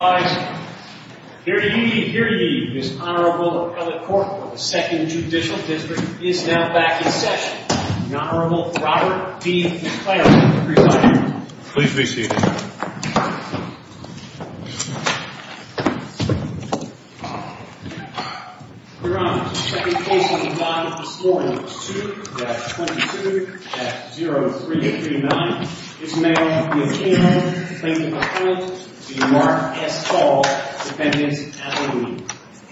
Here to ye, here to ye, this Honorable Appellate Court of the 2nd Judicial District is now back in session. The Honorable Robert D. McClary, the presiding judge. Please be seated. Your Honor, the second case on the docket this morning, 2-22-0339, is now the A'Quino plaintiff appellate v. Mark S. Hall, defendant's appellate.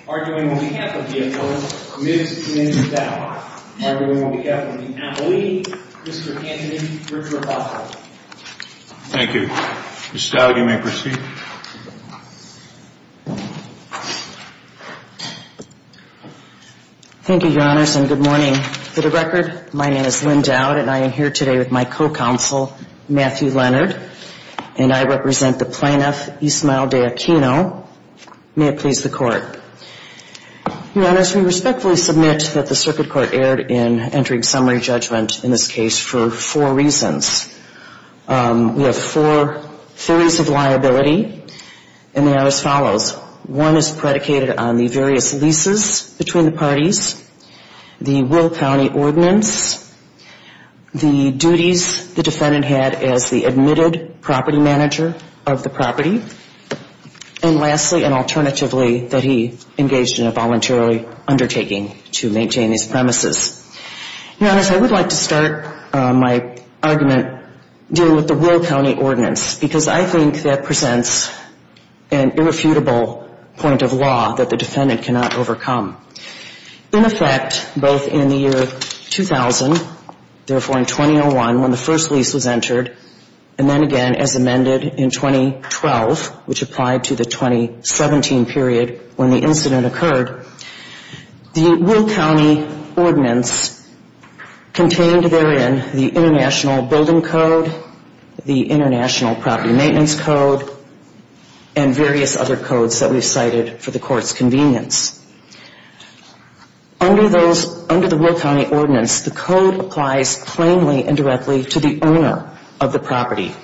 Arguing on behalf of the appellate, Ms. Lynn Dowd. Arguing on behalf of the appellate, Mr. Anthony Richard Oswald. Thank you. Ms. Dowd, you may proceed. Thank you, Your Honors, and good morning. For the record, my name is Lynn Dowd, and I am here today with my co-counsel, Matthew Leonard. And I represent the plaintiff, Ismael De'Aquino. May it please the Court. Your Honors, we respectfully submit that the Circuit Court erred in entering summary judgment in this case for four reasons. We have four theories of liability, and they are as follows. One is predicated on the various leases between the parties. The Will County Ordinance, the duties the defendant had as the admitted property manager of the property, and lastly, and alternatively, that he engaged in a voluntary undertaking to maintain these premises. Your Honors, I would like to start my argument dealing with the Will County Ordinance, because I think that presents an irrefutable point of law that the defendant cannot overcome. In effect, both in the year 2000, therefore in 2001 when the first lease was entered, and then again as amended in 2012, which applied to the 2017 period when the incident occurred, the Will County Ordinance contained therein the International Building Code, the International Property Maintenance Code, and various other codes that we've cited for the Court's convenience. Under the Will County Ordinance, the code applies plainly and directly to the owner of the property.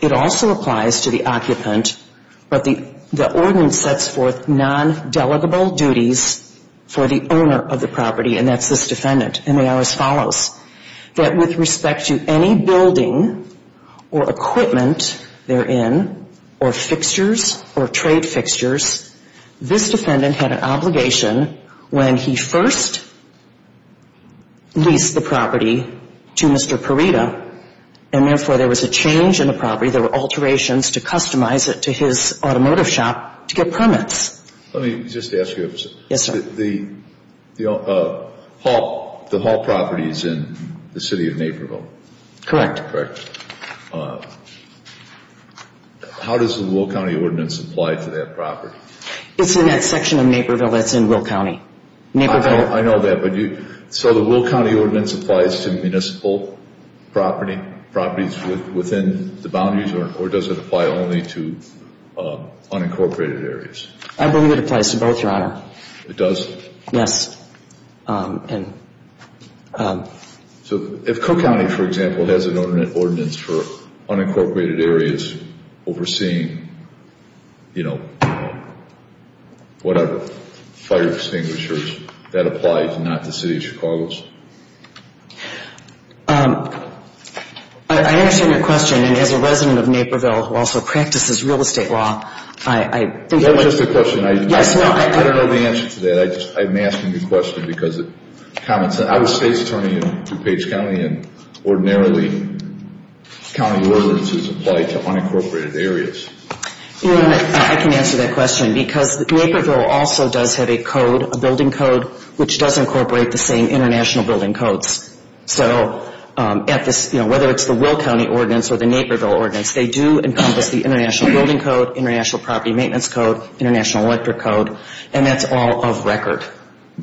It also applies to the occupant, but the ordinance sets forth non-delegable duties for the owner of the property, and that's this defendant, and they are as follows. That with respect to any building or equipment therein, or fixtures or trade fixtures, this defendant had an obligation when he first leased the property to Mr. Parita, and therefore there was a change in the property. There were alterations to customize it to his automotive shop to get permits. Let me just ask you a question. Yes, sir. The Hall property is in the City of Naperville. Correct. How does the Will County Ordinance apply to that property? It's in that section of Naperville that's in Will County. I know that, but so the Will County Ordinance applies to municipal properties within the boundaries, or does it apply only to unincorporated areas? I believe it applies to both, Your Honor. It does? Yes. So if Cook County, for example, has an ordinance for unincorporated areas overseeing, you know, whatever, fire extinguishers, that applies not to the City of Chicago's? I understand your question, and as a resident of Naperville who also practices real estate law, I think that would be— Is that just a question? Yes. I don't know the answer to that. I'm asking the question because of comments. I'm a state's attorney in DuPage County, and ordinarily county ordinances apply to unincorporated areas. Your Honor, I can answer that question because Naperville also does have a code, a building code, which does incorporate the same international building codes. So at this, you know, whether it's the Will County Ordinance or the Naperville Ordinance, they do encompass the International Building Code, International Property Maintenance Code, International Electric Code, and that's all of record.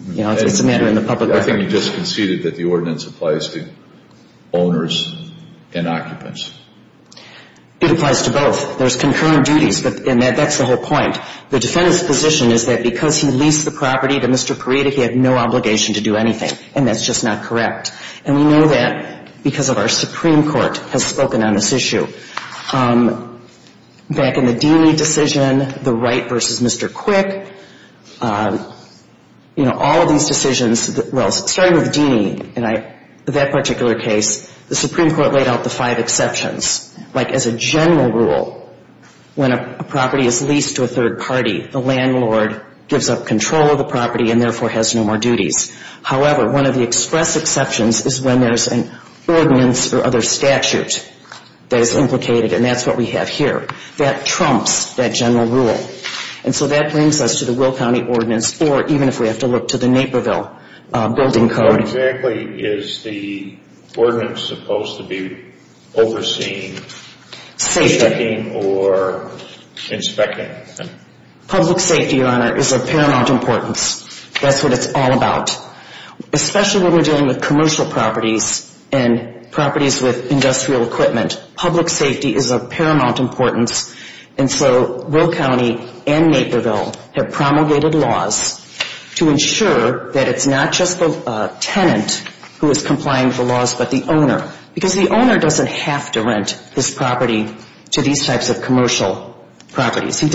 You know, it's a matter in the public record. I think you just conceded that the ordinance applies to owners and occupants. It applies to both. There's concurrent duties, and that's the whole point. The defendant's position is that because he leased the property to Mr. Parida, he had no obligation to do anything, and that's just not correct. And we know that because of our Supreme Court has spoken on this issue. Back in the Deeney decision, the Wright v. Mr. Quick, you know, all of these decisions, well, starting with Deeney and that particular case, the Supreme Court laid out the five exceptions. Like as a general rule, when a property is leased to a third party, the landlord gives up control of the property and therefore has no more duties. However, one of the express exceptions is when there's an ordinance or other statute that is implicated, and that's what we have here. That trumps that general rule. And so that brings us to the Will County Ordinance, or even if we have to look to the Naperville Building Code. What exactly is the ordinance supposed to be overseeing, checking, or inspecting? Public safety, Your Honor, is of paramount importance. That's what it's all about, especially when we're dealing with commercial properties and properties with industrial equipment. Public safety is of paramount importance. And so Will County and Naperville have promulgated laws to ensure that it's not just the tenant who is complying with the laws but the owner, because the owner doesn't have to rent this property to these types of commercial properties. For purposes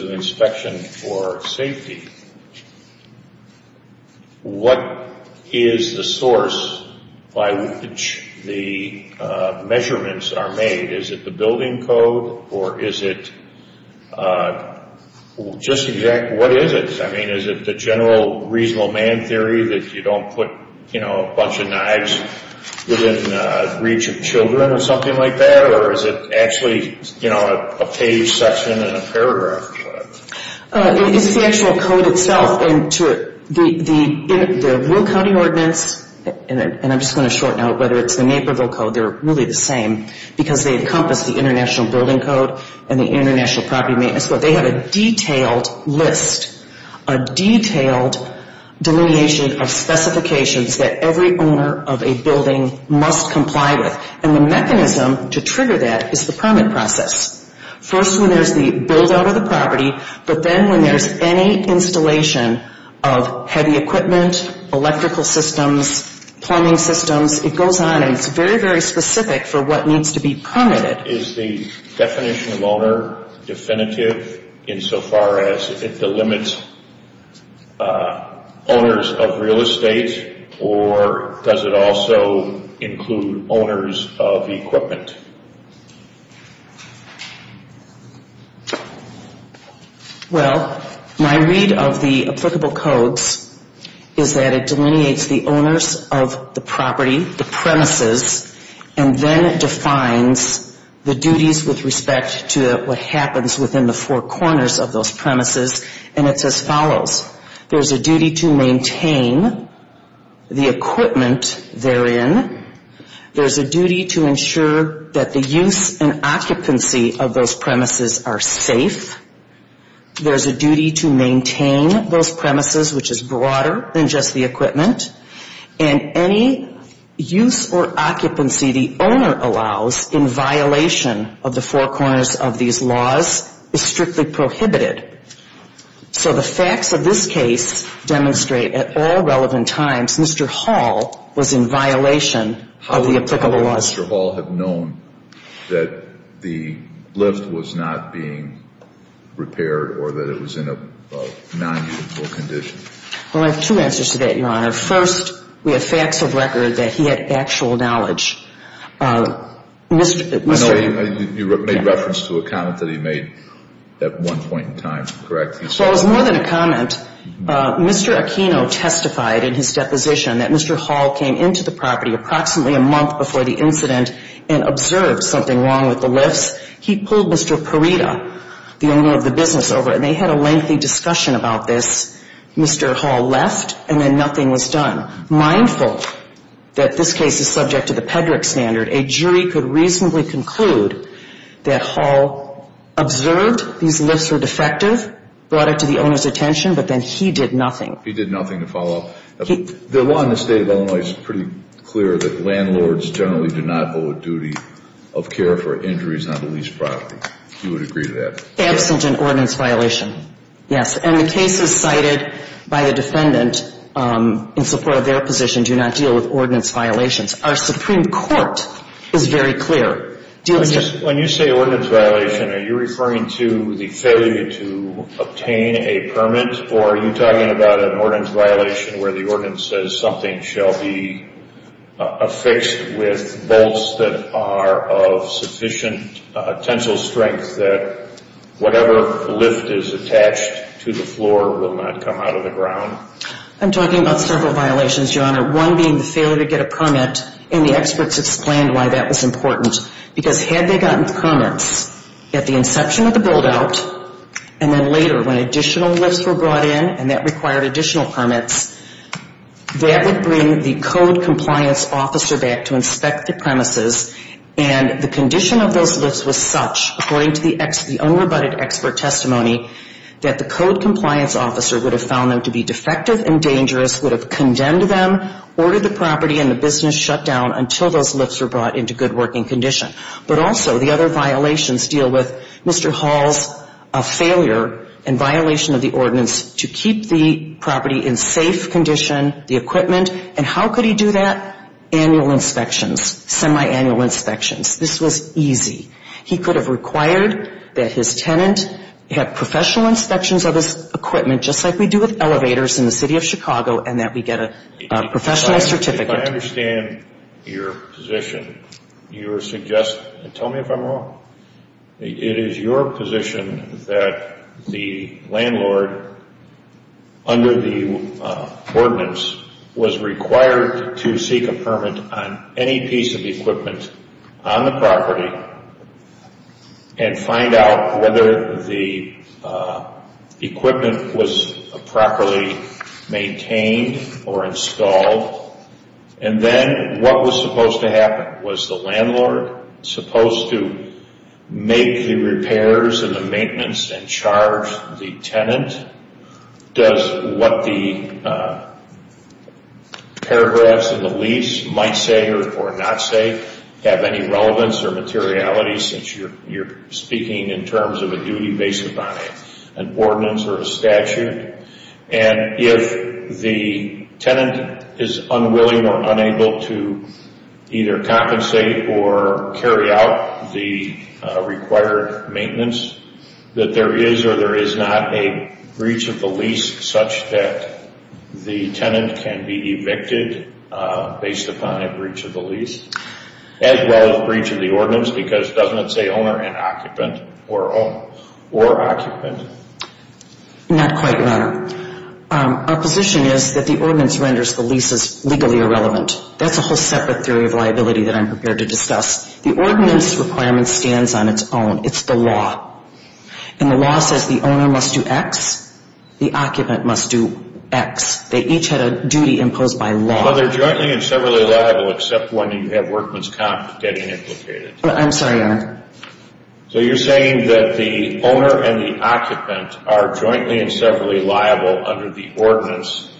of inspection for safety, what is the source by which the measurements are made? Is it the building code or is it just exactly what is it? I mean, is it the general reasonable man theory that you don't put, you know, a bunch of knives within reach of children or something like that? Or is it actually, you know, a page section in a paragraph or whatever? It's the actual code itself. The Will County Ordinance, and I'm just going to shorten out whether it's the Naperville Code, they're really the same because they encompass the International Building Code and the International Property Maintenance Code. They have a detailed list, a detailed delineation of specifications that every owner of a building must comply with. And the mechanism to trigger that is the permit process. First, when there's the build-out of the property, but then when there's any installation of heavy equipment, electrical systems, plumbing systems, it goes on and it's very, very specific for what needs to be permitted. Is the definition of owner definitive insofar as it delimits owners of real estate or does it also include owners of equipment? Well, my read of the applicable codes is that it delineates the owners of the property, the premises, and then it defines the duties with respect to what happens within the four corners of those premises, and it's as follows. There's a duty to maintain the equipment therein. There's a duty to ensure that the use and occupancy of those premises are safe. There's a duty to maintain those premises, which is broader than just the equipment, and any use or occupancy the owner allows in violation of the four corners of these laws is strictly prohibited. So the facts of this case demonstrate at all relevant times Mr. Hall was in violation of the applicable laws. How would Mr. Hall have known that the lift was not being repaired or that it was in a non-useable condition? Well, I have two answers to that, Your Honor. First, we have facts of record that he had actual knowledge. I know you made reference to a comment that he made at one point in time, correct? Well, it was more than a comment. Mr. Aquino testified in his deposition that Mr. Hall came into the property approximately a month before the incident and observed something wrong with the lifts. He pulled Mr. Perita, the owner of the business, over, and they had a lengthy discussion about this. Mr. Hall left, and then nothing was done. Mindful that this case is subject to the Pedrick standard, a jury could reasonably conclude that Hall observed these lifts were defective, brought it to the owner's attention, but then he did nothing. He did nothing to follow up? The law in the State of Illinois is pretty clear that landlords generally do not owe a duty of care for injuries on a leased property. You would agree to that? Absent an ordinance violation, yes. And the cases cited by the defendant in support of their position do not deal with ordinance violations. Our Supreme Court is very clear. When you say ordinance violation, are you referring to the failure to obtain a permit, or are you talking about an ordinance violation where the ordinance says something shall be affixed with bolts that are of sufficient tensile strength that whatever lift is attached to the floor will not come out of the ground? I'm talking about several violations, Your Honor, one being the failure to get a permit, and the experts explained why that was important. Because had they gotten permits at the inception of the build-out, and then later when additional lifts were brought in and that required additional permits, that would bring the code compliance officer back to inspect the premises, and the condition of those lifts was such, according to the unrebutted expert testimony, that the code compliance officer would have found them to be defective and dangerous, would have condemned them, ordered the property and the business shut down until those lifts were brought into good working condition. But also the other violations deal with Mr. Hall's failure and violation of the ordinance to keep the property in safe condition, the equipment, and how could he do that? Annual inspections, semi-annual inspections, this was easy. He could have required that his tenant have professional inspections of his equipment, just like we do with elevators in the city of Chicago, and that we get a professional certificate. If I understand your position, you're suggesting, tell me if I'm wrong, it is your position that the landlord, under the ordinance, was required to seek a permit on any piece of equipment on the property and find out whether the equipment was properly maintained or installed, and then what was supposed to happen? Was the landlord supposed to make the repairs and the maintenance and charge the tenant? Does what the paragraphs in the lease might say or not say have any relevance or materiality since you're speaking in terms of a duty based upon an ordinance or a statute? And if the tenant is unwilling or unable to either compensate or carry out the required maintenance, that there is or there is not a breach of the lease such that the tenant can be evicted based upon a breach of the lease, as well as breach of the ordinance, because doesn't it say owner and occupant or occupant? Not quite, Your Honor. Our position is that the ordinance renders the leases legally irrelevant. That's a whole separate theory of liability that I'm prepared to discuss. The ordinance requirement stands on its own. It's the law. And the law says the owner must do X, the occupant must do X. They each had a duty imposed by law. Well, they're jointly and severally liable except when you have workman's comp getting implicated. I'm sorry, Your Honor. So you're saying that the owner and the occupant are jointly and severally liable under the ordinance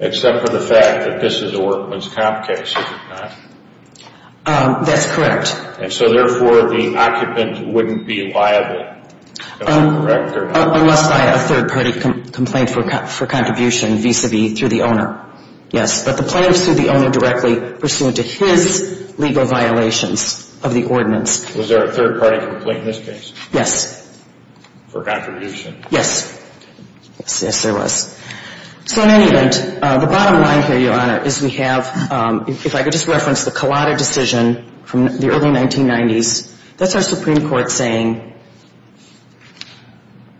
except for the fact that this is a workman's comp case, is it not? That's correct. And so therefore, the occupant wouldn't be liable, am I correct or not? Unless by a third party complaint for contribution vis-a-vis through the owner, yes. But the plaintiff sued the owner directly pursuant to his legal violations of the ordinance. Was there a third party complaint in this case? Yes. For contribution? Yes. Yes, there was. So in any event, the bottom line here, Your Honor, is we have, if I could just reference the Collada decision from the early 1990s, that's our Supreme Court saying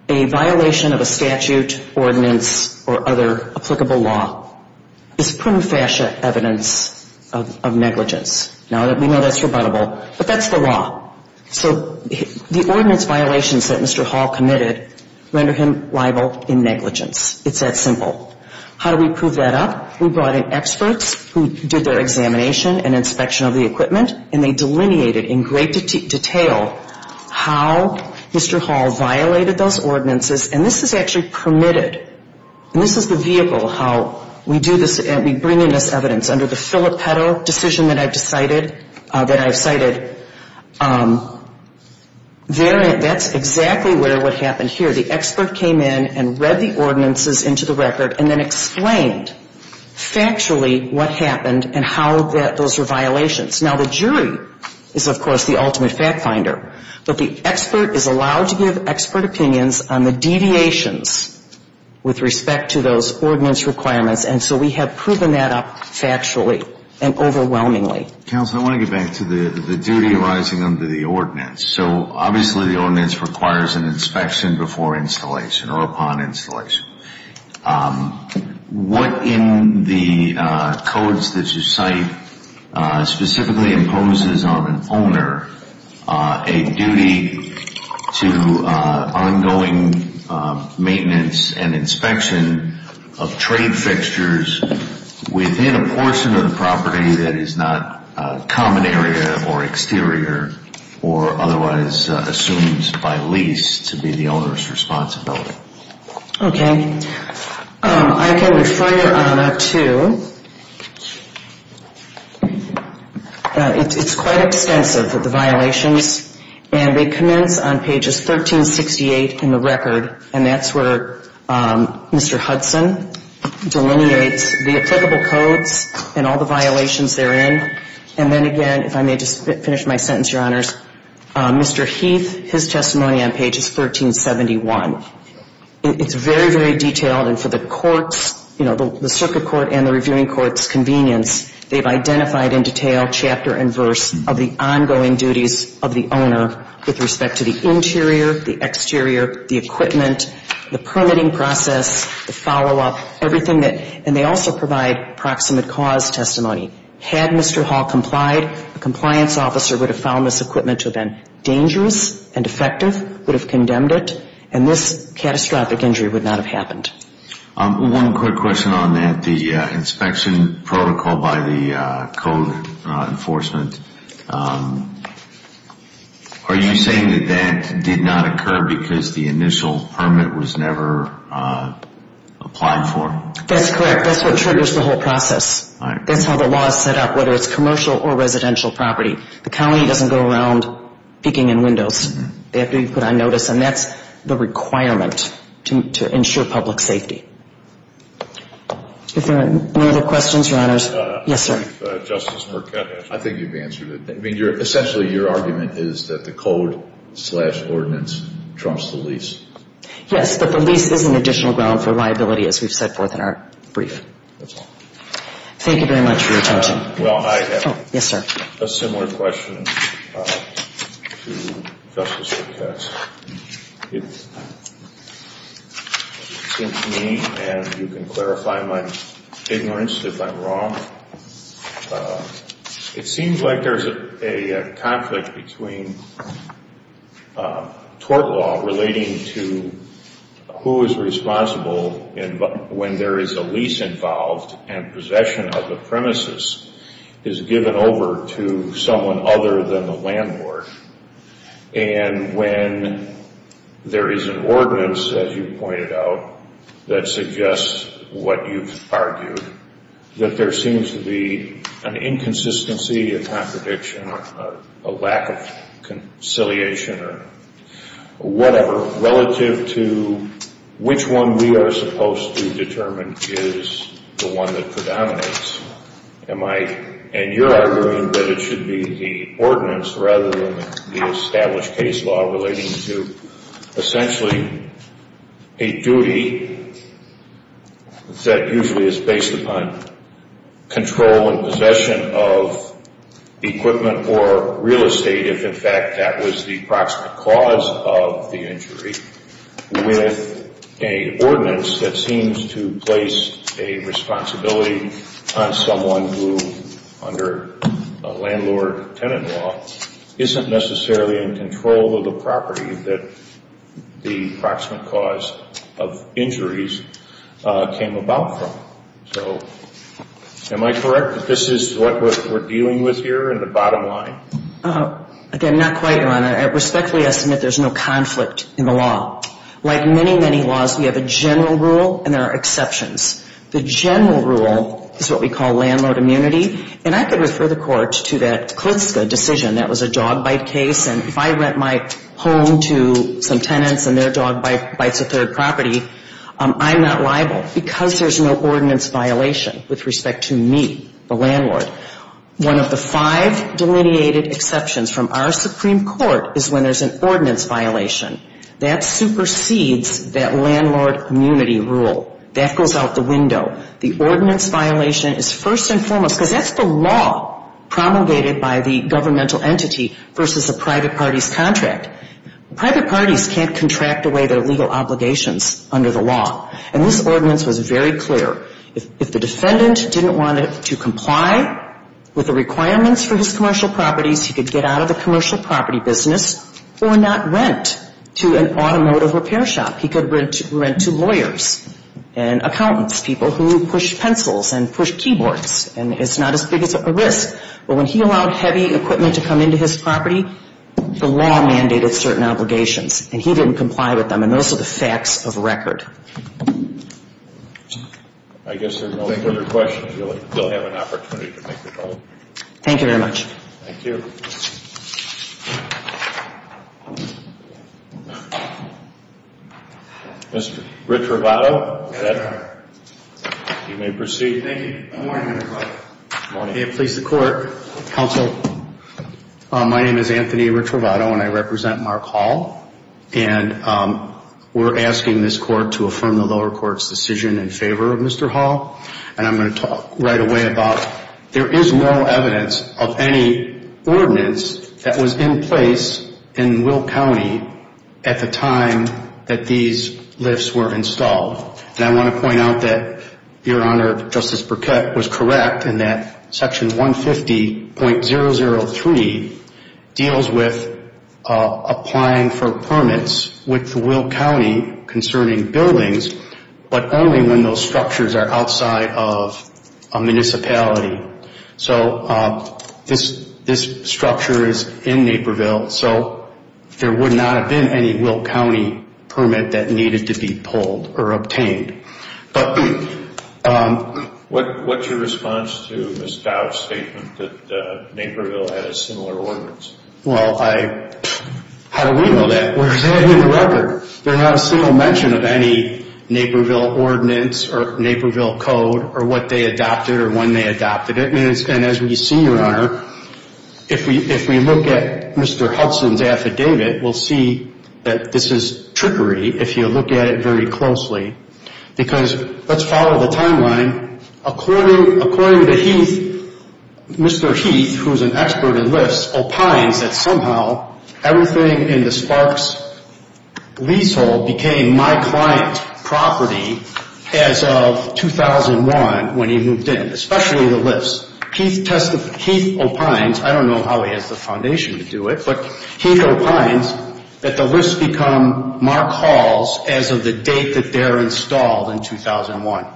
a violation of a statute, ordinance, or other applicable law is prima facie evidence of negligence. Now, we know that's rebuttable, but that's the law. So the ordinance violations that Mr. Hall committed render him liable in negligence. It's that simple. How do we prove that up? We brought in experts who did their examination and inspection of the equipment, and they delineated in great detail how Mr. Hall violated those ordinances. And this is actually permitted. And this is the vehicle how we bring in this evidence. Under the Filippetto decision that I've cited, that's exactly what happened here. The expert came in and read the ordinances into the record and then explained factually what happened and how those were violations. Now, the jury is, of course, the ultimate fact finder. But the expert is allowed to give expert opinions on the deviations with respect to those ordinance requirements. And so we have proven that up factually and overwhelmingly. Counsel, I want to get back to the duty arising under the ordinance. So obviously the ordinance requires an inspection before installation or upon installation. What in the codes that you cite specifically imposes on an owner a duty to ongoing maintenance and inspection of trade fixtures within a portion of the property that is not common area or exterior or otherwise assumed by lease to be the owner's responsibility? Okay. I can refer you, Anna, to, it's quite extensive, the violations. And they commence on pages 1368 in the record. And that's where Mr. Hudson delineates the applicable codes and all the violations therein. And then again, if I may just finish my sentence, Your Honors, Mr. Heath, his testimony on page is 1371. It's very, very detailed. And for the court's, you know, the circuit court and the reviewing court's convenience, they've identified in detail chapter and verse of the ongoing duties of the owner with respect to the interior, the exterior, the equipment, the permitting process, the follow-up, everything that, and they also provide proximate cause testimony. Had Mr. Hall complied, a compliance officer would have found this equipment to have been dangerous and defective, would have condemned it, and this catastrophic injury would not have happened. One quick question on that, the inspection protocol by the code enforcement, are you saying that that did not occur because the initial permit was never applied for? That's correct. That's what triggers the whole process. That's how the law is set up, whether it's commercial or residential property. The county doesn't go around peeking in windows. They have to be put on notice, and that's the requirement to ensure public safety. If there are no other questions, Your Honors. Yes, sir. Justice Marquette, I think you've answered it. I mean, essentially your argument is that the code-slash-ordinance trumps the lease. Yes, but the lease is an additional ground for liability, as we've set forth in our brief. Thank you very much for your time. Well, I have a similar question to Justice Marquette's. It seems to me, and you can clarify my ignorance if I'm wrong, it seems like there's a conflict between tort law relating to who is responsible when there is a lease involved and possession of the premises is given over to someone other than the landlord, and when there is an ordinance, as you pointed out, that suggests what you've argued, that there seems to be an inconsistency, a contradiction, or a lack of conciliation, or whatever, relative to which one we are supposed to determine is the one that predominates. And you're arguing that it should be the ordinance rather than the established case law relating to essentially a duty that usually is based upon control and possession of equipment or real estate if, in fact, that was the proximate cause of the injury, with an ordinance that seems to place a responsibility on someone who, under landlord-tenant law, isn't necessarily in control of the property that the proximate cause of injuries came about from. So am I correct that this is what we're dealing with here in the bottom line? Again, not quite, Your Honor. Respectfully, I submit there's no conflict in the law. Like many, many laws, we have a general rule and there are exceptions. The general rule is what we call landlord immunity, and I could refer the Court to that Klitska decision. That was a dog bite case, and if I rent my home to some tenants and their dog bites a third property, I'm not liable. Why? Because there's no ordinance violation with respect to me, the landlord. One of the five delineated exceptions from our Supreme Court is when there's an ordinance violation. That supersedes that landlord immunity rule. That goes out the window. The ordinance violation is first and foremost because that's the law promulgated by the governmental entity versus a private party's contract. Private parties can't contract away their legal obligations under the law, and this ordinance was very clear. If the defendant didn't want to comply with the requirements for his commercial properties, he could get out of the commercial property business or not rent to an automotive repair shop. He could rent to lawyers and accountants, people who push pencils and push keyboards, and it's not as big of a risk. But when he allowed heavy equipment to come into his property, the law mandated certain obligations, and he didn't comply with them, and those are the facts of record. I guess there's no further questions. You'll have an opportunity to make your vote. Thank you very much. Thank you. Mr. Riccirovato, you may proceed. Thank you. Good morning, Mr. Clark. Good morning. May it please the Court. Counsel. My name is Anthony Riccirovato, and I represent Mark Hall, and we're asking this Court to affirm the lower court's decision in favor of Mr. Hall, and I'm going to talk right away about there is no evidence of any ordinance that was in place in Will County at the time that these lifts were installed. And I want to point out that, Your Honor, Justice Burkett was correct in that Section 150.003 deals with applying for permits with Will County concerning buildings, but only when those structures are outside of a municipality. So this structure is in Naperville, so there would not have been any Will County permit that needed to be pulled or obtained. What's your response to Ms. Dowd's statement that Naperville had a similar ordinance? Well, how do we know that? We're presenting the record. There's not a single mention of any Naperville ordinance or Naperville code or what they adopted or when they adopted it. And as we see, Your Honor, if we look at Mr. Hudson's affidavit, we'll see that this is trickery if you look at it very closely. Because let's follow the timeline. According to Heath, Mr. Heath, who's an expert in lifts, opines that somehow everything in the Sparks leasehold became my client property as of 2001 when he moved in, especially the lifts. Heath opines, I don't know how he has the foundation to do it, but Heath opines that the lifts become Mark Hall's as of the date that they're installed in 2001.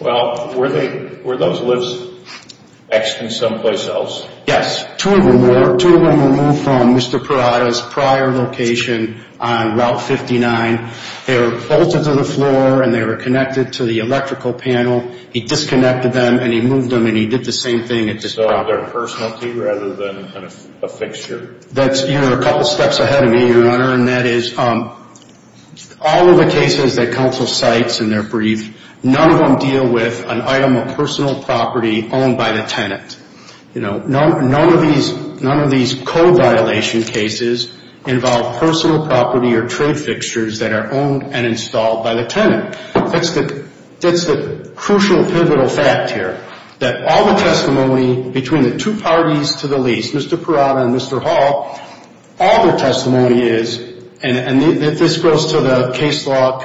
Well, were those lifts actually someplace else? Yes. Two of them were moved from Mr. Parada's prior location on Route 59. They were bolted to the floor and they were connected to the electrical panel. He disconnected them and he moved them and he did the same thing at this property. So they're a personality rather than a fixture? You're a couple steps ahead of me, Your Honor, and that is all of the cases that counsel cites in their brief, none of them deal with an item of personal property owned by the tenant. None of these code violation cases involve personal property or trade fixtures that are owned and installed by the tenant. That's the crucial pivotal fact here, that all the testimony between the two parties to the lease, Mr. Parada and Mr. Hall, all their testimony is, and this goes to the case law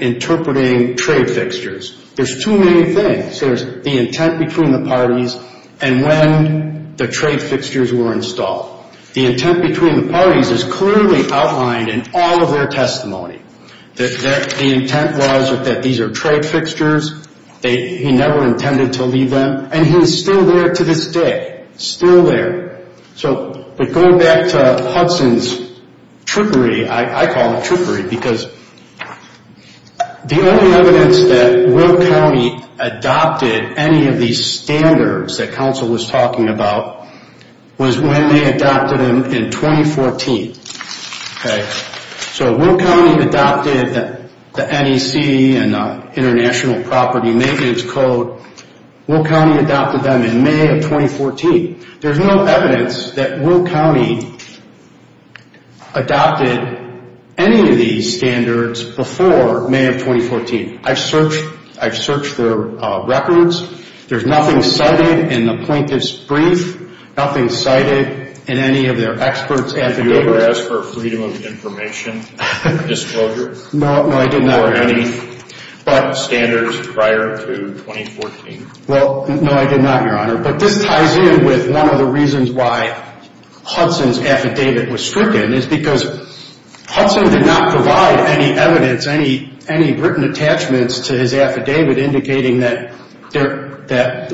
interpreting trade fixtures, there's too many things. There's the intent between the parties and when the trade fixtures were installed. The intent between the parties is clearly outlined in all of their testimony. The intent was that these are trade fixtures, he never intended to leave them, and he's still there to this day, still there. So going back to Hudson's trickery, I call it trickery, because the only evidence that Will County adopted any of these standards that counsel was talking about was when they adopted them in 2014. So Will County adopted the NEC and International Property Maintenance Code, Will County adopted them in May of 2014. There's no evidence that Will County adopted any of these standards before May of 2014. I've searched their records, there's nothing cited in the plaintiff's brief, nothing cited in any of their experts' affidavits. Did you ever ask for freedom of information disclosure? No, no, I did not. Or any standards prior to 2014? Well, no, I did not, Your Honor. But this ties in with one of the reasons why Hudson's affidavit was stricken, is because Hudson did not provide any evidence, any written attachments to his affidavit indicating that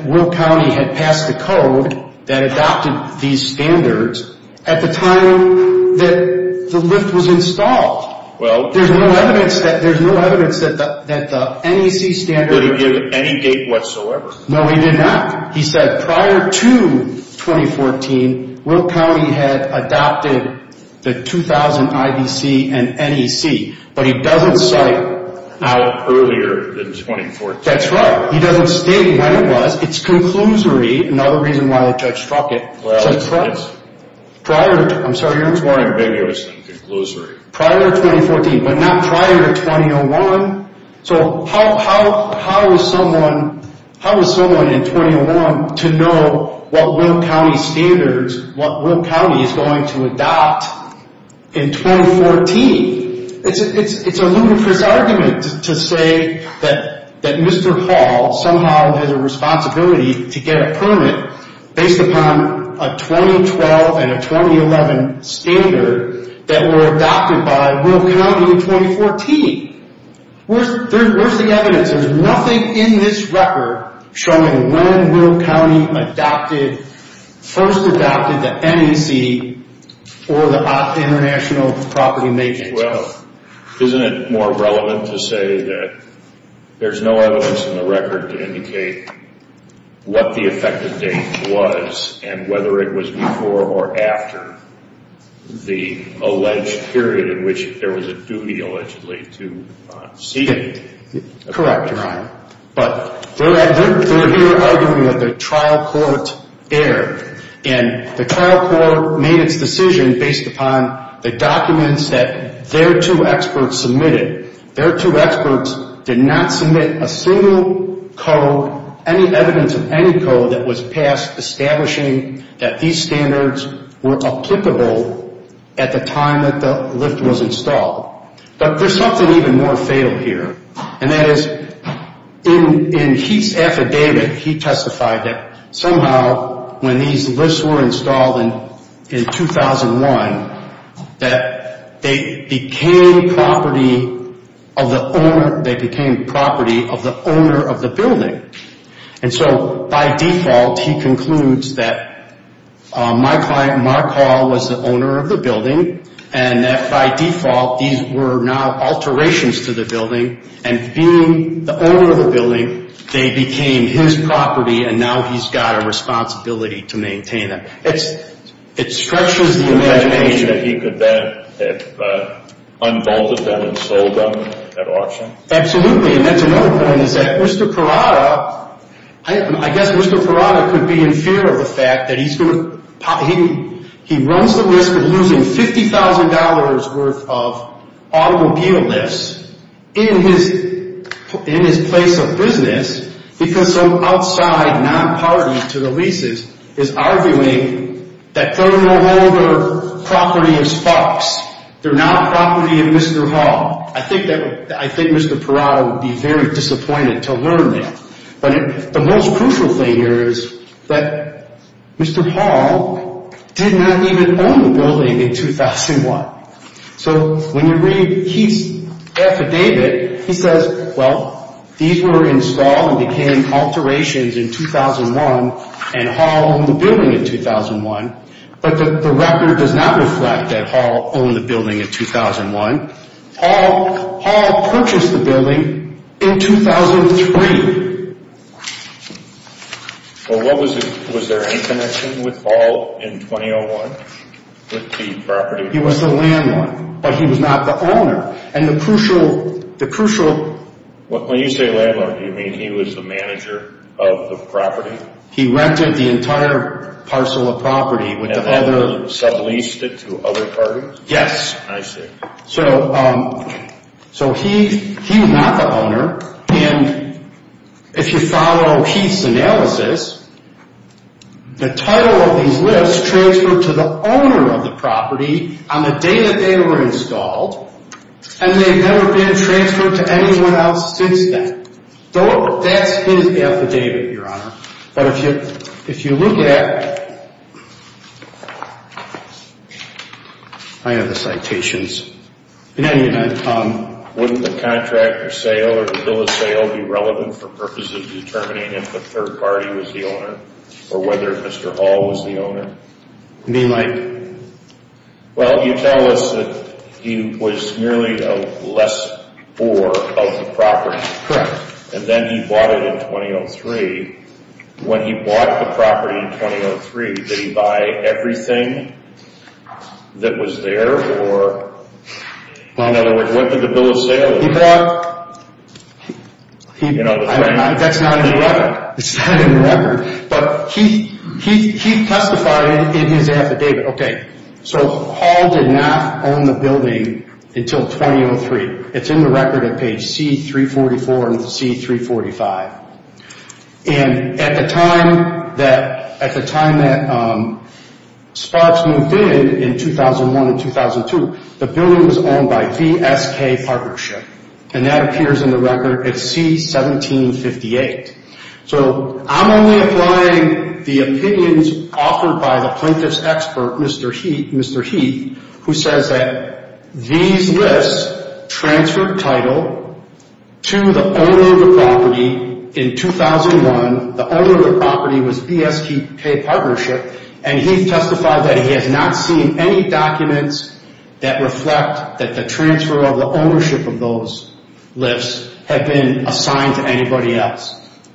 Will County had passed a code that adopted these standards at the time that the lift was installed. There's no evidence that the NEC standard... Did he give any date whatsoever? No, he did not. He said prior to 2014, Will County had adopted the 2000 IBC and NEC, but he doesn't cite how earlier than 2014. That's right. He doesn't state when it was. It's conclusory, another reason why the judge struck it. Well, yes. Prior to, I'm sorry, Your Honor. It's more ambiguous than conclusory. Prior to 2014, but not prior to 2001. So how is someone in 2001 to know what Will County standards, what Will County is going to adopt in 2014? It's a ludicrous argument to say that Mr. Hall somehow has a responsibility to get a permit based upon a 2012 and a 2011 standard that were adopted by Will County in 2014. Where's the evidence? There's nothing in this record showing when Will County adopted, first adopted the NEC or the International Property Maintenance Code. Well, isn't it more relevant to say that there's no evidence in the record to indicate what the effective date was and whether it was before or after the alleged period in which there was a duty allegedly to seek it? Correct, Your Honor. But they're here arguing that the trial court erred and the trial court made its decision based upon the documents that their two experts submitted. Their two experts did not submit a single code, any evidence of any code that was passed establishing that these standards were applicable at the time that the lift was installed. But there's something even more fatal here, and that is in Heath's affidavit he testified that somehow when these lifts were installed in 2001 that they became property of the owner of the building. And so by default he concludes that my client Mark Hall was the owner of the building and that by default these were now alterations to the building and being the owner of the building they became his property and now he's got a responsibility to maintain them. It stretches the imagination. Do you imagine that he could then have unbolted them and sold them at auction? Absolutely. And that's another point is that Mr. Parada, I guess Mr. Parada could be in fear of the fact that he's going to He runs the risk of losing $50,000 worth of automobile lifts in his place of business because some outside non-party to the leases is arguing that terminal holder property is Fox. They're not property of Mr. Hall. I think Mr. Parada would be very disappointed to learn that. But the most crucial thing here is that Mr. Hall did not even own the building in 2001. So when you read Heath's affidavit, he says, well, these were installed and became alterations in 2001 and Hall owned the building in 2001, but the record does not reflect that Hall owned the building in 2001. Hall purchased the building in 2003. Well, was there any connection with Hall in 2001 with the property? He was the landlord, but he was not the owner. And the crucial When you say landlord, do you mean he was the manager of the property? He rented the entire parcel of property with the other And then he subleased it to other parties? Yes. I see. So he was not the owner. And if you follow Heath's analysis, the title of these lists transferred to the owner of the property on the day that they were installed, and they've never been transferred to anyone else since then. That's his affidavit, Your Honor. But if you look at I have the citations. Wouldn't the contract of sale or the bill of sale be relevant for purposes of determining if the third party was the owner or whether Mr. Hall was the owner? What do you mean by that? Well, you tell us that he was merely a lessor of the property. Correct. And then he bought it in 2003. When he bought the property in 2003, did he buy everything that was there? Or, in other words, what did the bill of sale look like? He bought That's not in the record. It's not in the record. But Heath testified in his affidavit. Okay. So Hall did not own the building until 2003. It's in the record at page C-344 and C-345. And at the time that Sparks moved in, in 2001 and 2002, the building was owned by VSK Partnership. And that appears in the record at C-1758. So I'm only applying the opinions offered by the plaintiff's expert, Mr. Heath, who says that these lists transferred title to the owner of the property in 2001. The owner of the property was VSK Partnership. And Heath testified that he has not seen any documents that reflect that the transfer of the ownership of those lists had been assigned to anybody else.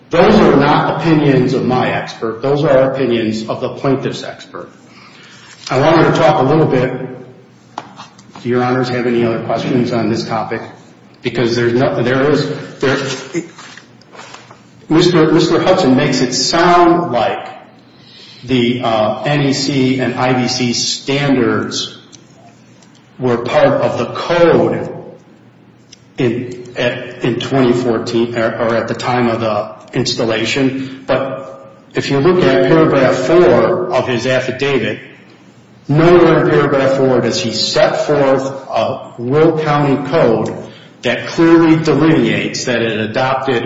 Those are not opinions of my expert. Those are opinions of the plaintiff's expert. I want to talk a little bit. Do your honors have any other questions on this topic? Because there is, Mr. Hudson makes it sound like the NEC and IBC standards were part of the code in 2014, or at the time of the installation. But if you look at paragraph 4 of his affidavit, nowhere in paragraph 4 does he set forth a Will County code that clearly delineates that it adopted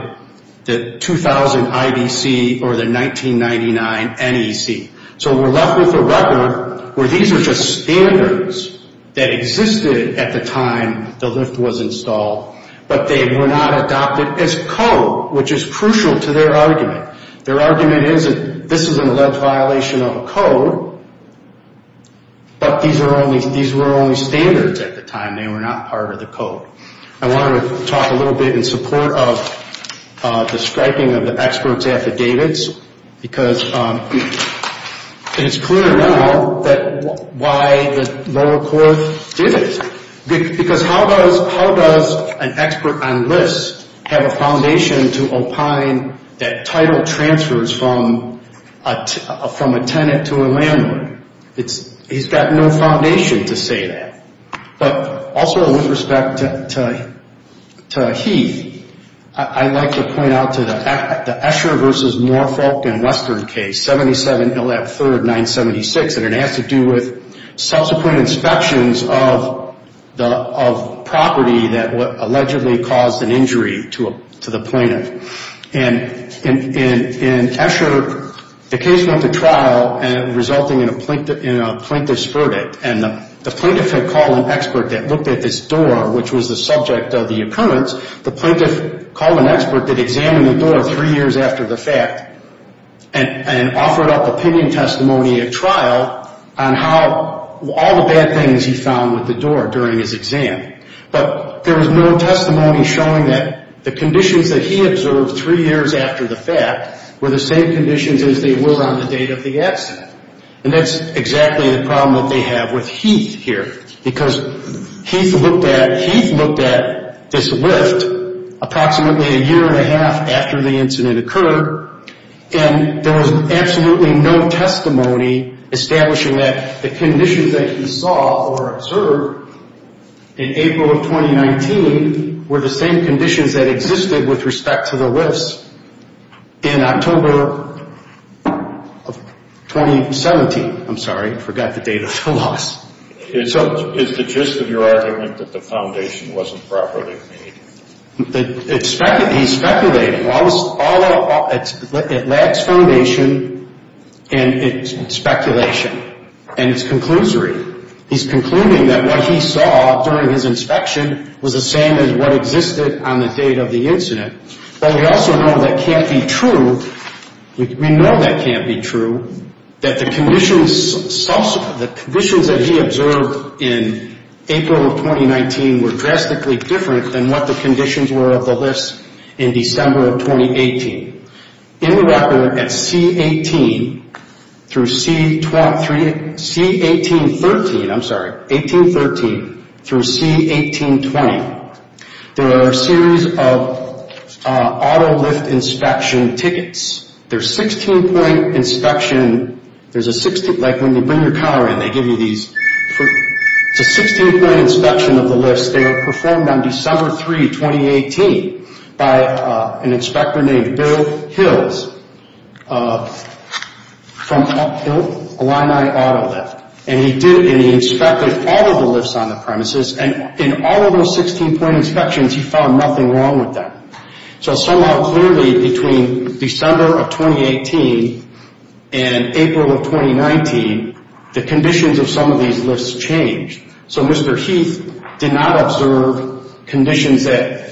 the 2000 IBC or the 1999 NEC. So we're left with a record where these are just standards that existed at the time the lift was installed. But they were not adopted as code, which is crucial to their argument. Their argument is that this is an alleged violation of a code. But these were only standards at the time. They were not part of the code. I want to talk a little bit in support of the striping of the expert's affidavits. Because it's clear now why the lower court did it. Because how does an expert on lifts have a foundation to opine that title transfers from a tenant to a landlord? He's got no foundation to say that. But also with respect to Heath, I'd like to point out to the Escher v. Moorfolk and Western case, 77-3-976, and it has to do with subsequent inspections of property that allegedly caused an injury to the plaintiff. And in Escher, the case went to trial resulting in a plaintiff's verdict. And the plaintiff had called an expert that looked at this door, which was the subject of the occurrence. The plaintiff called an expert that examined the door three years after the fact and offered up opinion testimony at trial on how all the bad things he found with the door during his exam. But there was no testimony showing that the conditions that he observed three years after the fact were the same conditions as they were on the date of the accident. And that's exactly the problem that they have with Heath here. Because Heath looked at this lift approximately a year and a half after the incident occurred, and there was absolutely no testimony establishing that the conditions that he saw or observed in April of 2019 were the same conditions that existed with respect to the lifts in October of 2017. I'm sorry, I forgot the date of the loss. It's the gist of your argument that the foundation wasn't properly made. He's speculating. It lacks foundation and speculation. And it's conclusory. He's concluding that what he saw during his inspection was the same as what existed on the date of the incident. But we also know that can't be true. We know that can't be true, that the conditions that he observed in April of 2019 were drastically different than what the conditions were of the lifts in December of 2018. In the record at C18 through C1813, I'm sorry, 1813 through C1820, there are a series of auto lift inspection tickets. There's 16-point inspection. Like when you bring your car in, they give you these. It's a 16-point inspection of the lifts. They were performed on December 3, 2018 by an inspector named Bill Hills from Illini Auto Lift. And he inspected all of the lifts on the premises. And in all of those 16-point inspections, he found nothing wrong with them. So somehow clearly between December of 2018 and April of 2019, the conditions of some of these lifts changed. So Mr. Heath did not observe conditions that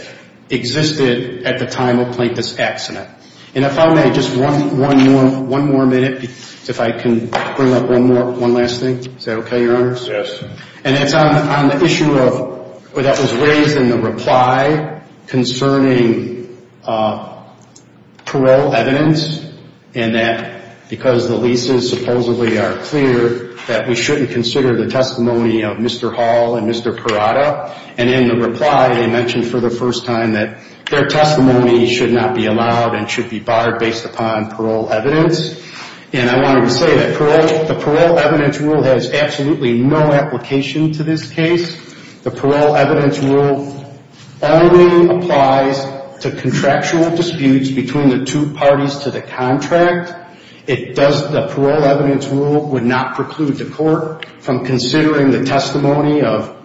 existed at the time of this accident. And if I may, just one more minute, if I can bring up one last thing. Is that okay, Your Honors? Yes. And it's on the issue that was raised in the reply concerning parole evidence. And that because the leases supposedly are clear, that we shouldn't consider the testimony of Mr. Hall and Mr. Parada. And in the reply, they mentioned for the first time that their testimony should not be allowed and should be barred based upon parole evidence. And I wanted to say that the parole evidence rule has absolutely no application to this case. The parole evidence rule only applies to contractual disputes between the two parties to the contract. The parole evidence rule would not preclude the court from considering the testimony of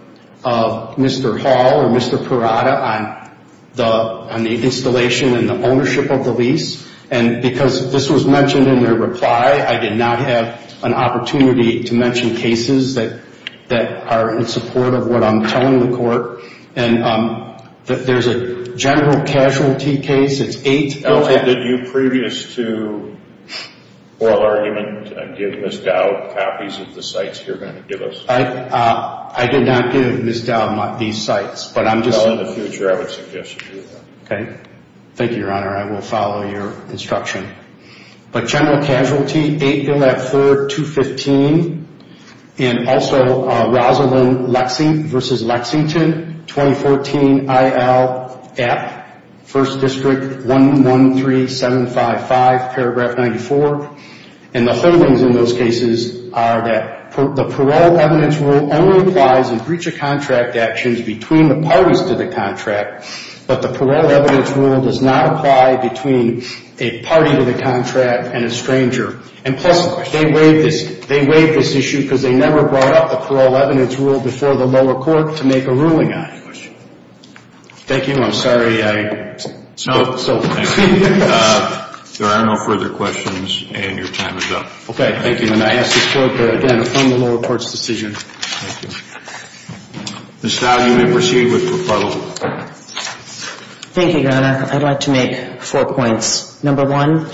Mr. Hall or Mr. Parada on the installation and the ownership of the lease. And because this was mentioned in their reply, I did not have an opportunity to mention cases that are in support of what I'm telling the court. And there's a general casualty case. It's 8-0. Did you previous to oral argument give Ms. Dowd copies of the sites you're going to give us? I did not give Ms. Dowd these sites. In the future, I would suggest you do that. Okay. Thank you, Your Honor. I will follow your instruction. But general casualty, 8-0 at 3rd, 215. And also, Rosalind Lexington v. Lexington, 2014 I.L. App, 1st District, 113755, paragraph 94. And the holdings in those cases are that the parole evidence rule only applies in breach of contract actions between the parties to the contract. But the parole evidence rule does not apply between a party to the contract and a stranger. And plus, they waived this issue because they never brought up the parole evidence rule before the lower court to make a ruling on it. Thank you. I'm sorry. There are no further questions. And your time is up. Okay. Thank you. And I ask this court to, again, affirm the lower court's decision. Thank you. Ms. Fowley, you may proceed with the rebuttal. Thank you, Your Honor. I'd like to make four points. Number one,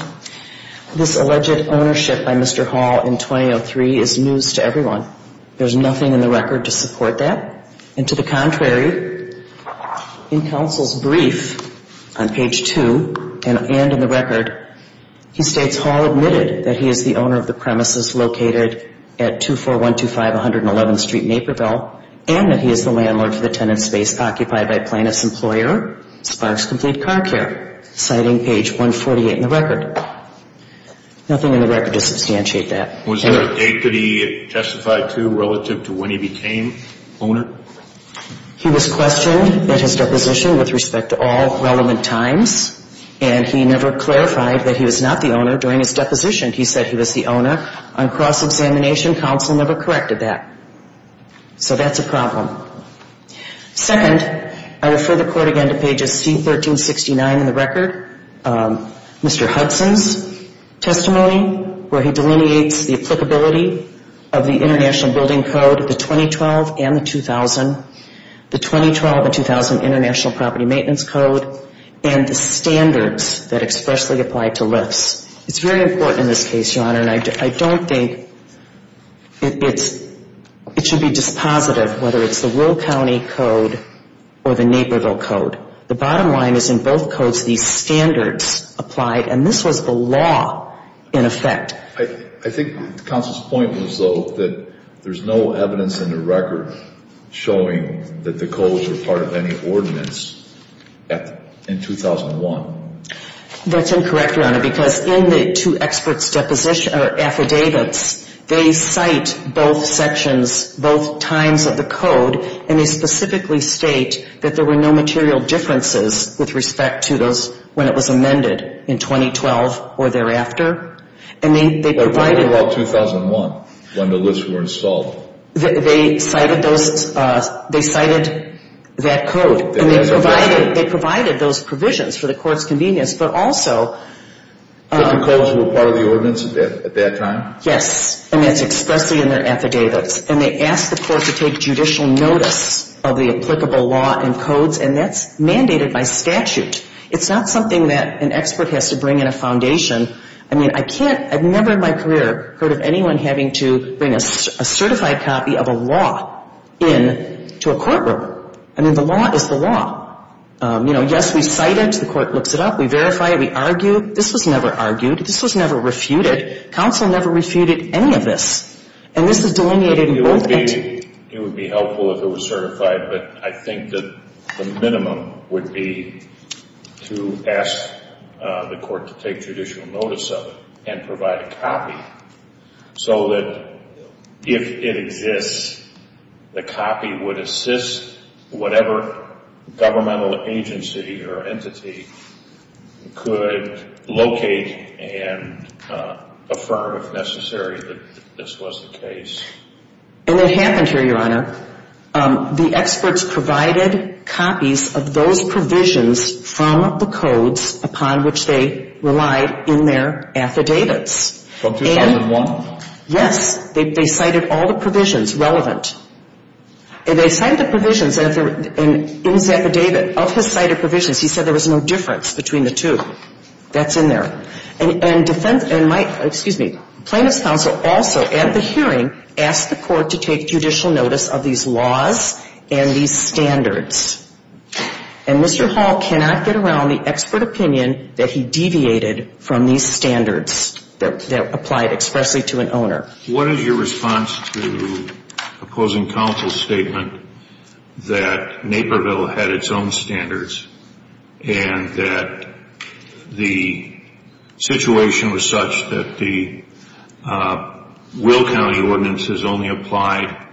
this alleged ownership by Mr. Hall in 2003 is news to everyone. There's nothing in the record to support that. And to the contrary, in counsel's brief on page 2 and in the record, He states Hall admitted that he is the owner of the premises located at 24125 111th Street, Naperville, and that he is the landlord for the tenant space occupied by Plaintiff's employer, Sparks Complete Car Care, citing page 148 in the record. Nothing in the record to substantiate that. Was there a date that he justified to relative to when he became owner? He was questioned at his deposition with respect to all relevant times, and he never clarified that he was not the owner during his deposition. He said he was the owner. On cross-examination, counsel never corrected that. So that's a problem. Second, I refer the court again to pages C1369 in the record, Mr. Hudson's testimony, where he delineates the applicability of the International Building Code, the 2012 and the 2000, the 2012 and 2000 International Property Maintenance Code, and the standards that expressly applied to lifts. It's very important in this case, Your Honor, and I don't think it should be dispositive whether it's the Will County Code or the Naperville Code. The bottom line is in both codes these standards applied, and this was the law in effect. I think counsel's point was, though, that there's no evidence in the record showing that the codes were part of any ordinance in 2001. That's incorrect, Your Honor, because in the two experts' deposition or affidavits, they cite both sections, both times of the code, and they specifically state that there were no material differences with respect to those when it was amended in 2012 or thereafter, and they provided... But what about 2001, when the lifts were installed? They cited that code, and they provided those provisions for the court's convenience, but also... But the codes were part of the ordinance at that time? Yes, and that's expressly in their affidavits, and they asked the court to take judicial notice of the applicable law and codes, and that's mandated by statute. It's not something that an expert has to bring in a foundation. I mean, I can't... I've never in my career heard of anyone having to bring a certified copy of a law in to a courtroom. I mean, the law is the law. You know, yes, we cite it. The court looks it up. We verify it. We argue. This was never argued. This was never refuted. Counsel never refuted any of this, and this is delineated in both... It would be helpful if it was certified, but I think that the minimum would be to ask the court to take judicial notice of it and provide a copy so that if it exists, the copy would assist whatever governmental agency or entity could locate and affirm, if necessary, that this was the case. And what happened here, Your Honor, the experts provided copies of those provisions from the codes upon which they relied in their affidavits. From two sides of one? Yes. They cited all the provisions relevant. And they cited the provisions, and in his affidavit, of his cited provisions, he said there was no difference between the two. That's in there. And plaintiff's counsel also, at the hearing, asked the court to take judicial notice of these laws and these standards. And Mr. Hall cannot get around the expert opinion that he deviated from these standards that applied expressly to an owner. What is your response to opposing counsel's statement that Naperville had its own standards and that the situation was such that the Will County ordinance is only applied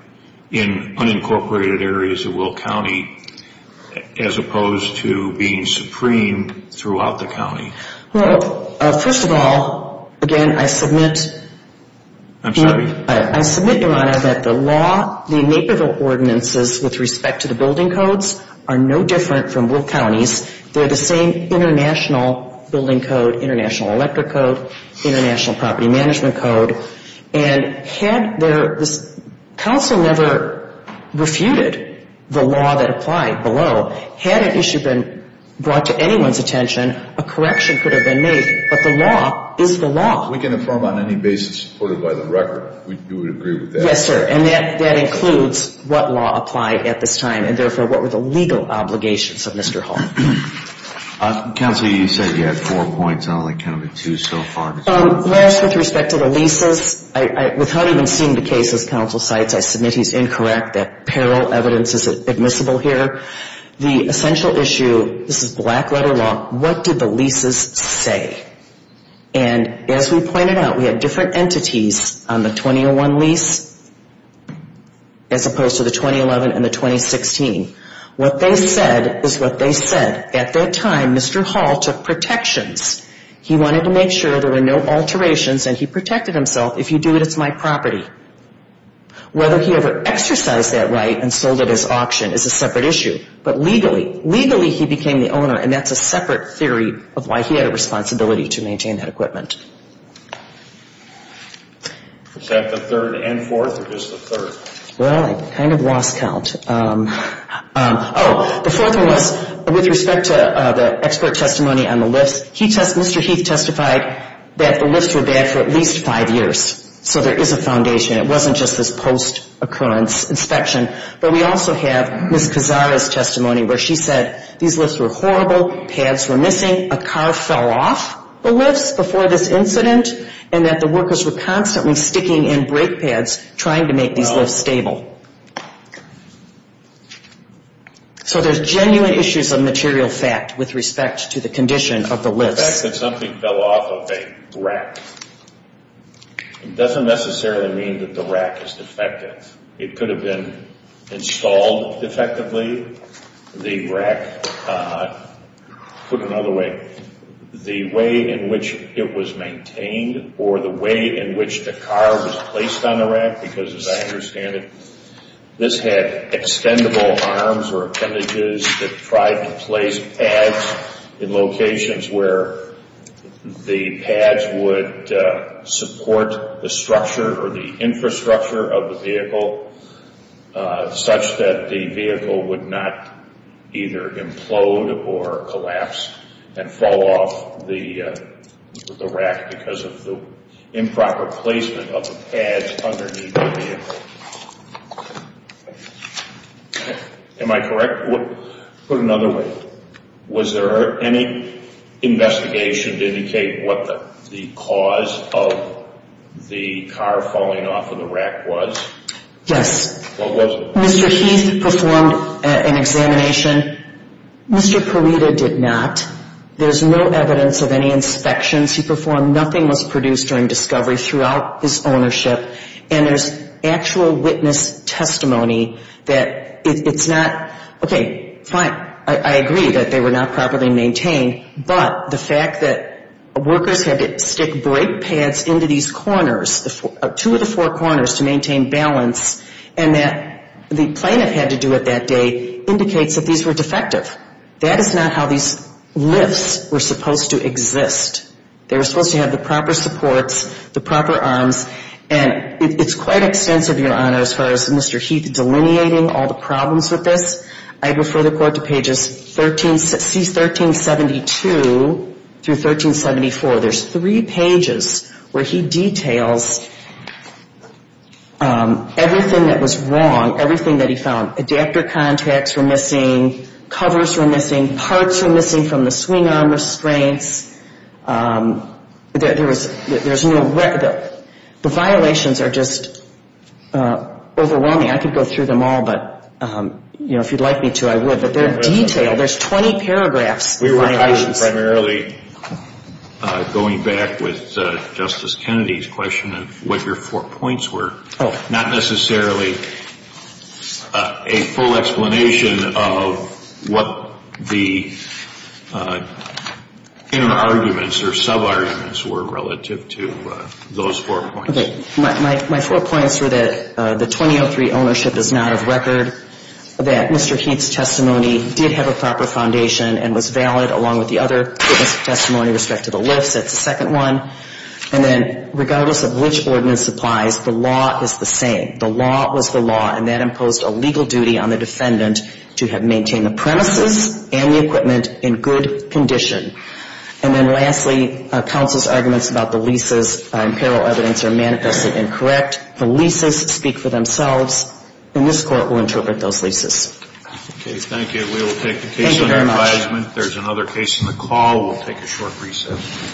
in unincorporated areas of Will County as opposed to being supreme throughout the county? Well, first of all, again, I submit. I'm sorry. I submit, Your Honor, that the law, the Naperville ordinances, with respect to the building codes, are no different from Will County's. They're the same international building code, international electric code, international property management code. And had the counsel never refuted the law that applied below, had an issue been brought to anyone's attention, a correction could have been made. But the law is the law. If we can inform on any basis supported by the record, we would agree with that. Yes, sir, and that includes what law applied at this time and therefore what were the legal obligations of Mr. Hall. Counsel, you said you had four points. I only counted two so far. Last, with respect to the leases, without even seeing the case as counsel cites, I submit he's incorrect, that parallel evidence is admissible here. The essential issue, this is black-letter law, what did the leases say? And as we pointed out, we had different entities on the 2001 lease as opposed to the 2011 and the 2016. What they said is what they said. At that time, Mr. Hall took protections. He wanted to make sure there were no alterations, and he protected himself. If you do it, it's my property. Whether he ever exercised that right and sold it as auction is a separate issue. But legally, legally he became the owner, and that's a separate theory of why he had a responsibility to maintain that equipment. Is that the third and fourth or just the third? Well, I kind of lost count. Oh, the fourth one was with respect to the expert testimony on the lifts. Mr. Heath testified that the lifts were bad for at least five years. So there is a foundation. It wasn't just this post-occurrence inspection. But we also have Ms. Cazares' testimony where she said these lifts were horrible, pads were missing, a car fell off the lifts before this incident, and that the workers were constantly sticking in brake pads trying to make these lifts stable. So there's genuine issues of material fact with respect to the condition of the lifts. The fact that something fell off of a rack doesn't necessarily mean that the rack is defective. It could have been installed defectively. The rack, put another way, the way in which it was maintained or the way in which the car was placed on the rack, because as I understand it, this had extendable arms or appendages that tried to place pads in locations where the pads would support the structure or the infrastructure of the vehicle such that the vehicle would not either implode or collapse and fall off the rack because of the improper placement of the pads underneath the vehicle. Am I correct? Put another way, was there any investigation to indicate what the cause of the car falling off of the rack was? Yes. What was it? Mr. Heath performed an examination. Mr. Perita did not. There's no evidence of any inspections he performed. Nothing was produced during discovery throughout his ownership. And there's actual witness testimony that it's not, okay, fine, I agree that they were not properly maintained, but the fact that workers had to stick brake pads into these corners, two of the four corners to maintain balance, and that the plaintiff had to do it that day indicates that these were defective. That is not how these lifts were supposed to exist. They were supposed to have the proper supports, the proper arms, and it's quite extensive, Your Honor, as far as Mr. Heath delineating all the problems with this. I refer the Court to pages 1372 through 1374. There's three pages where he details everything that was wrong, everything that he found. I mean, parts are missing from the swing arm restraints. There's no record. The violations are just overwhelming. I could go through them all, but, you know, if you'd like me to, I would. But they're detailed. There's 20 paragraphs of violations. We were primarily going back with Justice Kennedy's question of what your four points were. Not necessarily a full explanation of what the inner arguments or sub-arguments were relative to those four points. Okay. My four points were that the 2003 ownership is not of record, that Mr. Heath's testimony did have a proper foundation and was valid along with the other witness' testimony with respect to the lifts. That's the second one. And then, regardless of which ordinance applies, the law is the same. The law was the law, and that imposed a legal duty on the defendant to have maintained the premises and the equipment in good condition. And then lastly, counsel's arguments about the leases and apparel evidence are manifestly incorrect. The leases speak for themselves, and this Court will interpret those leases. Okay. Thank you. We will take the case under advisement. Thank you very much. There's another case in the call. We'll take a short recess.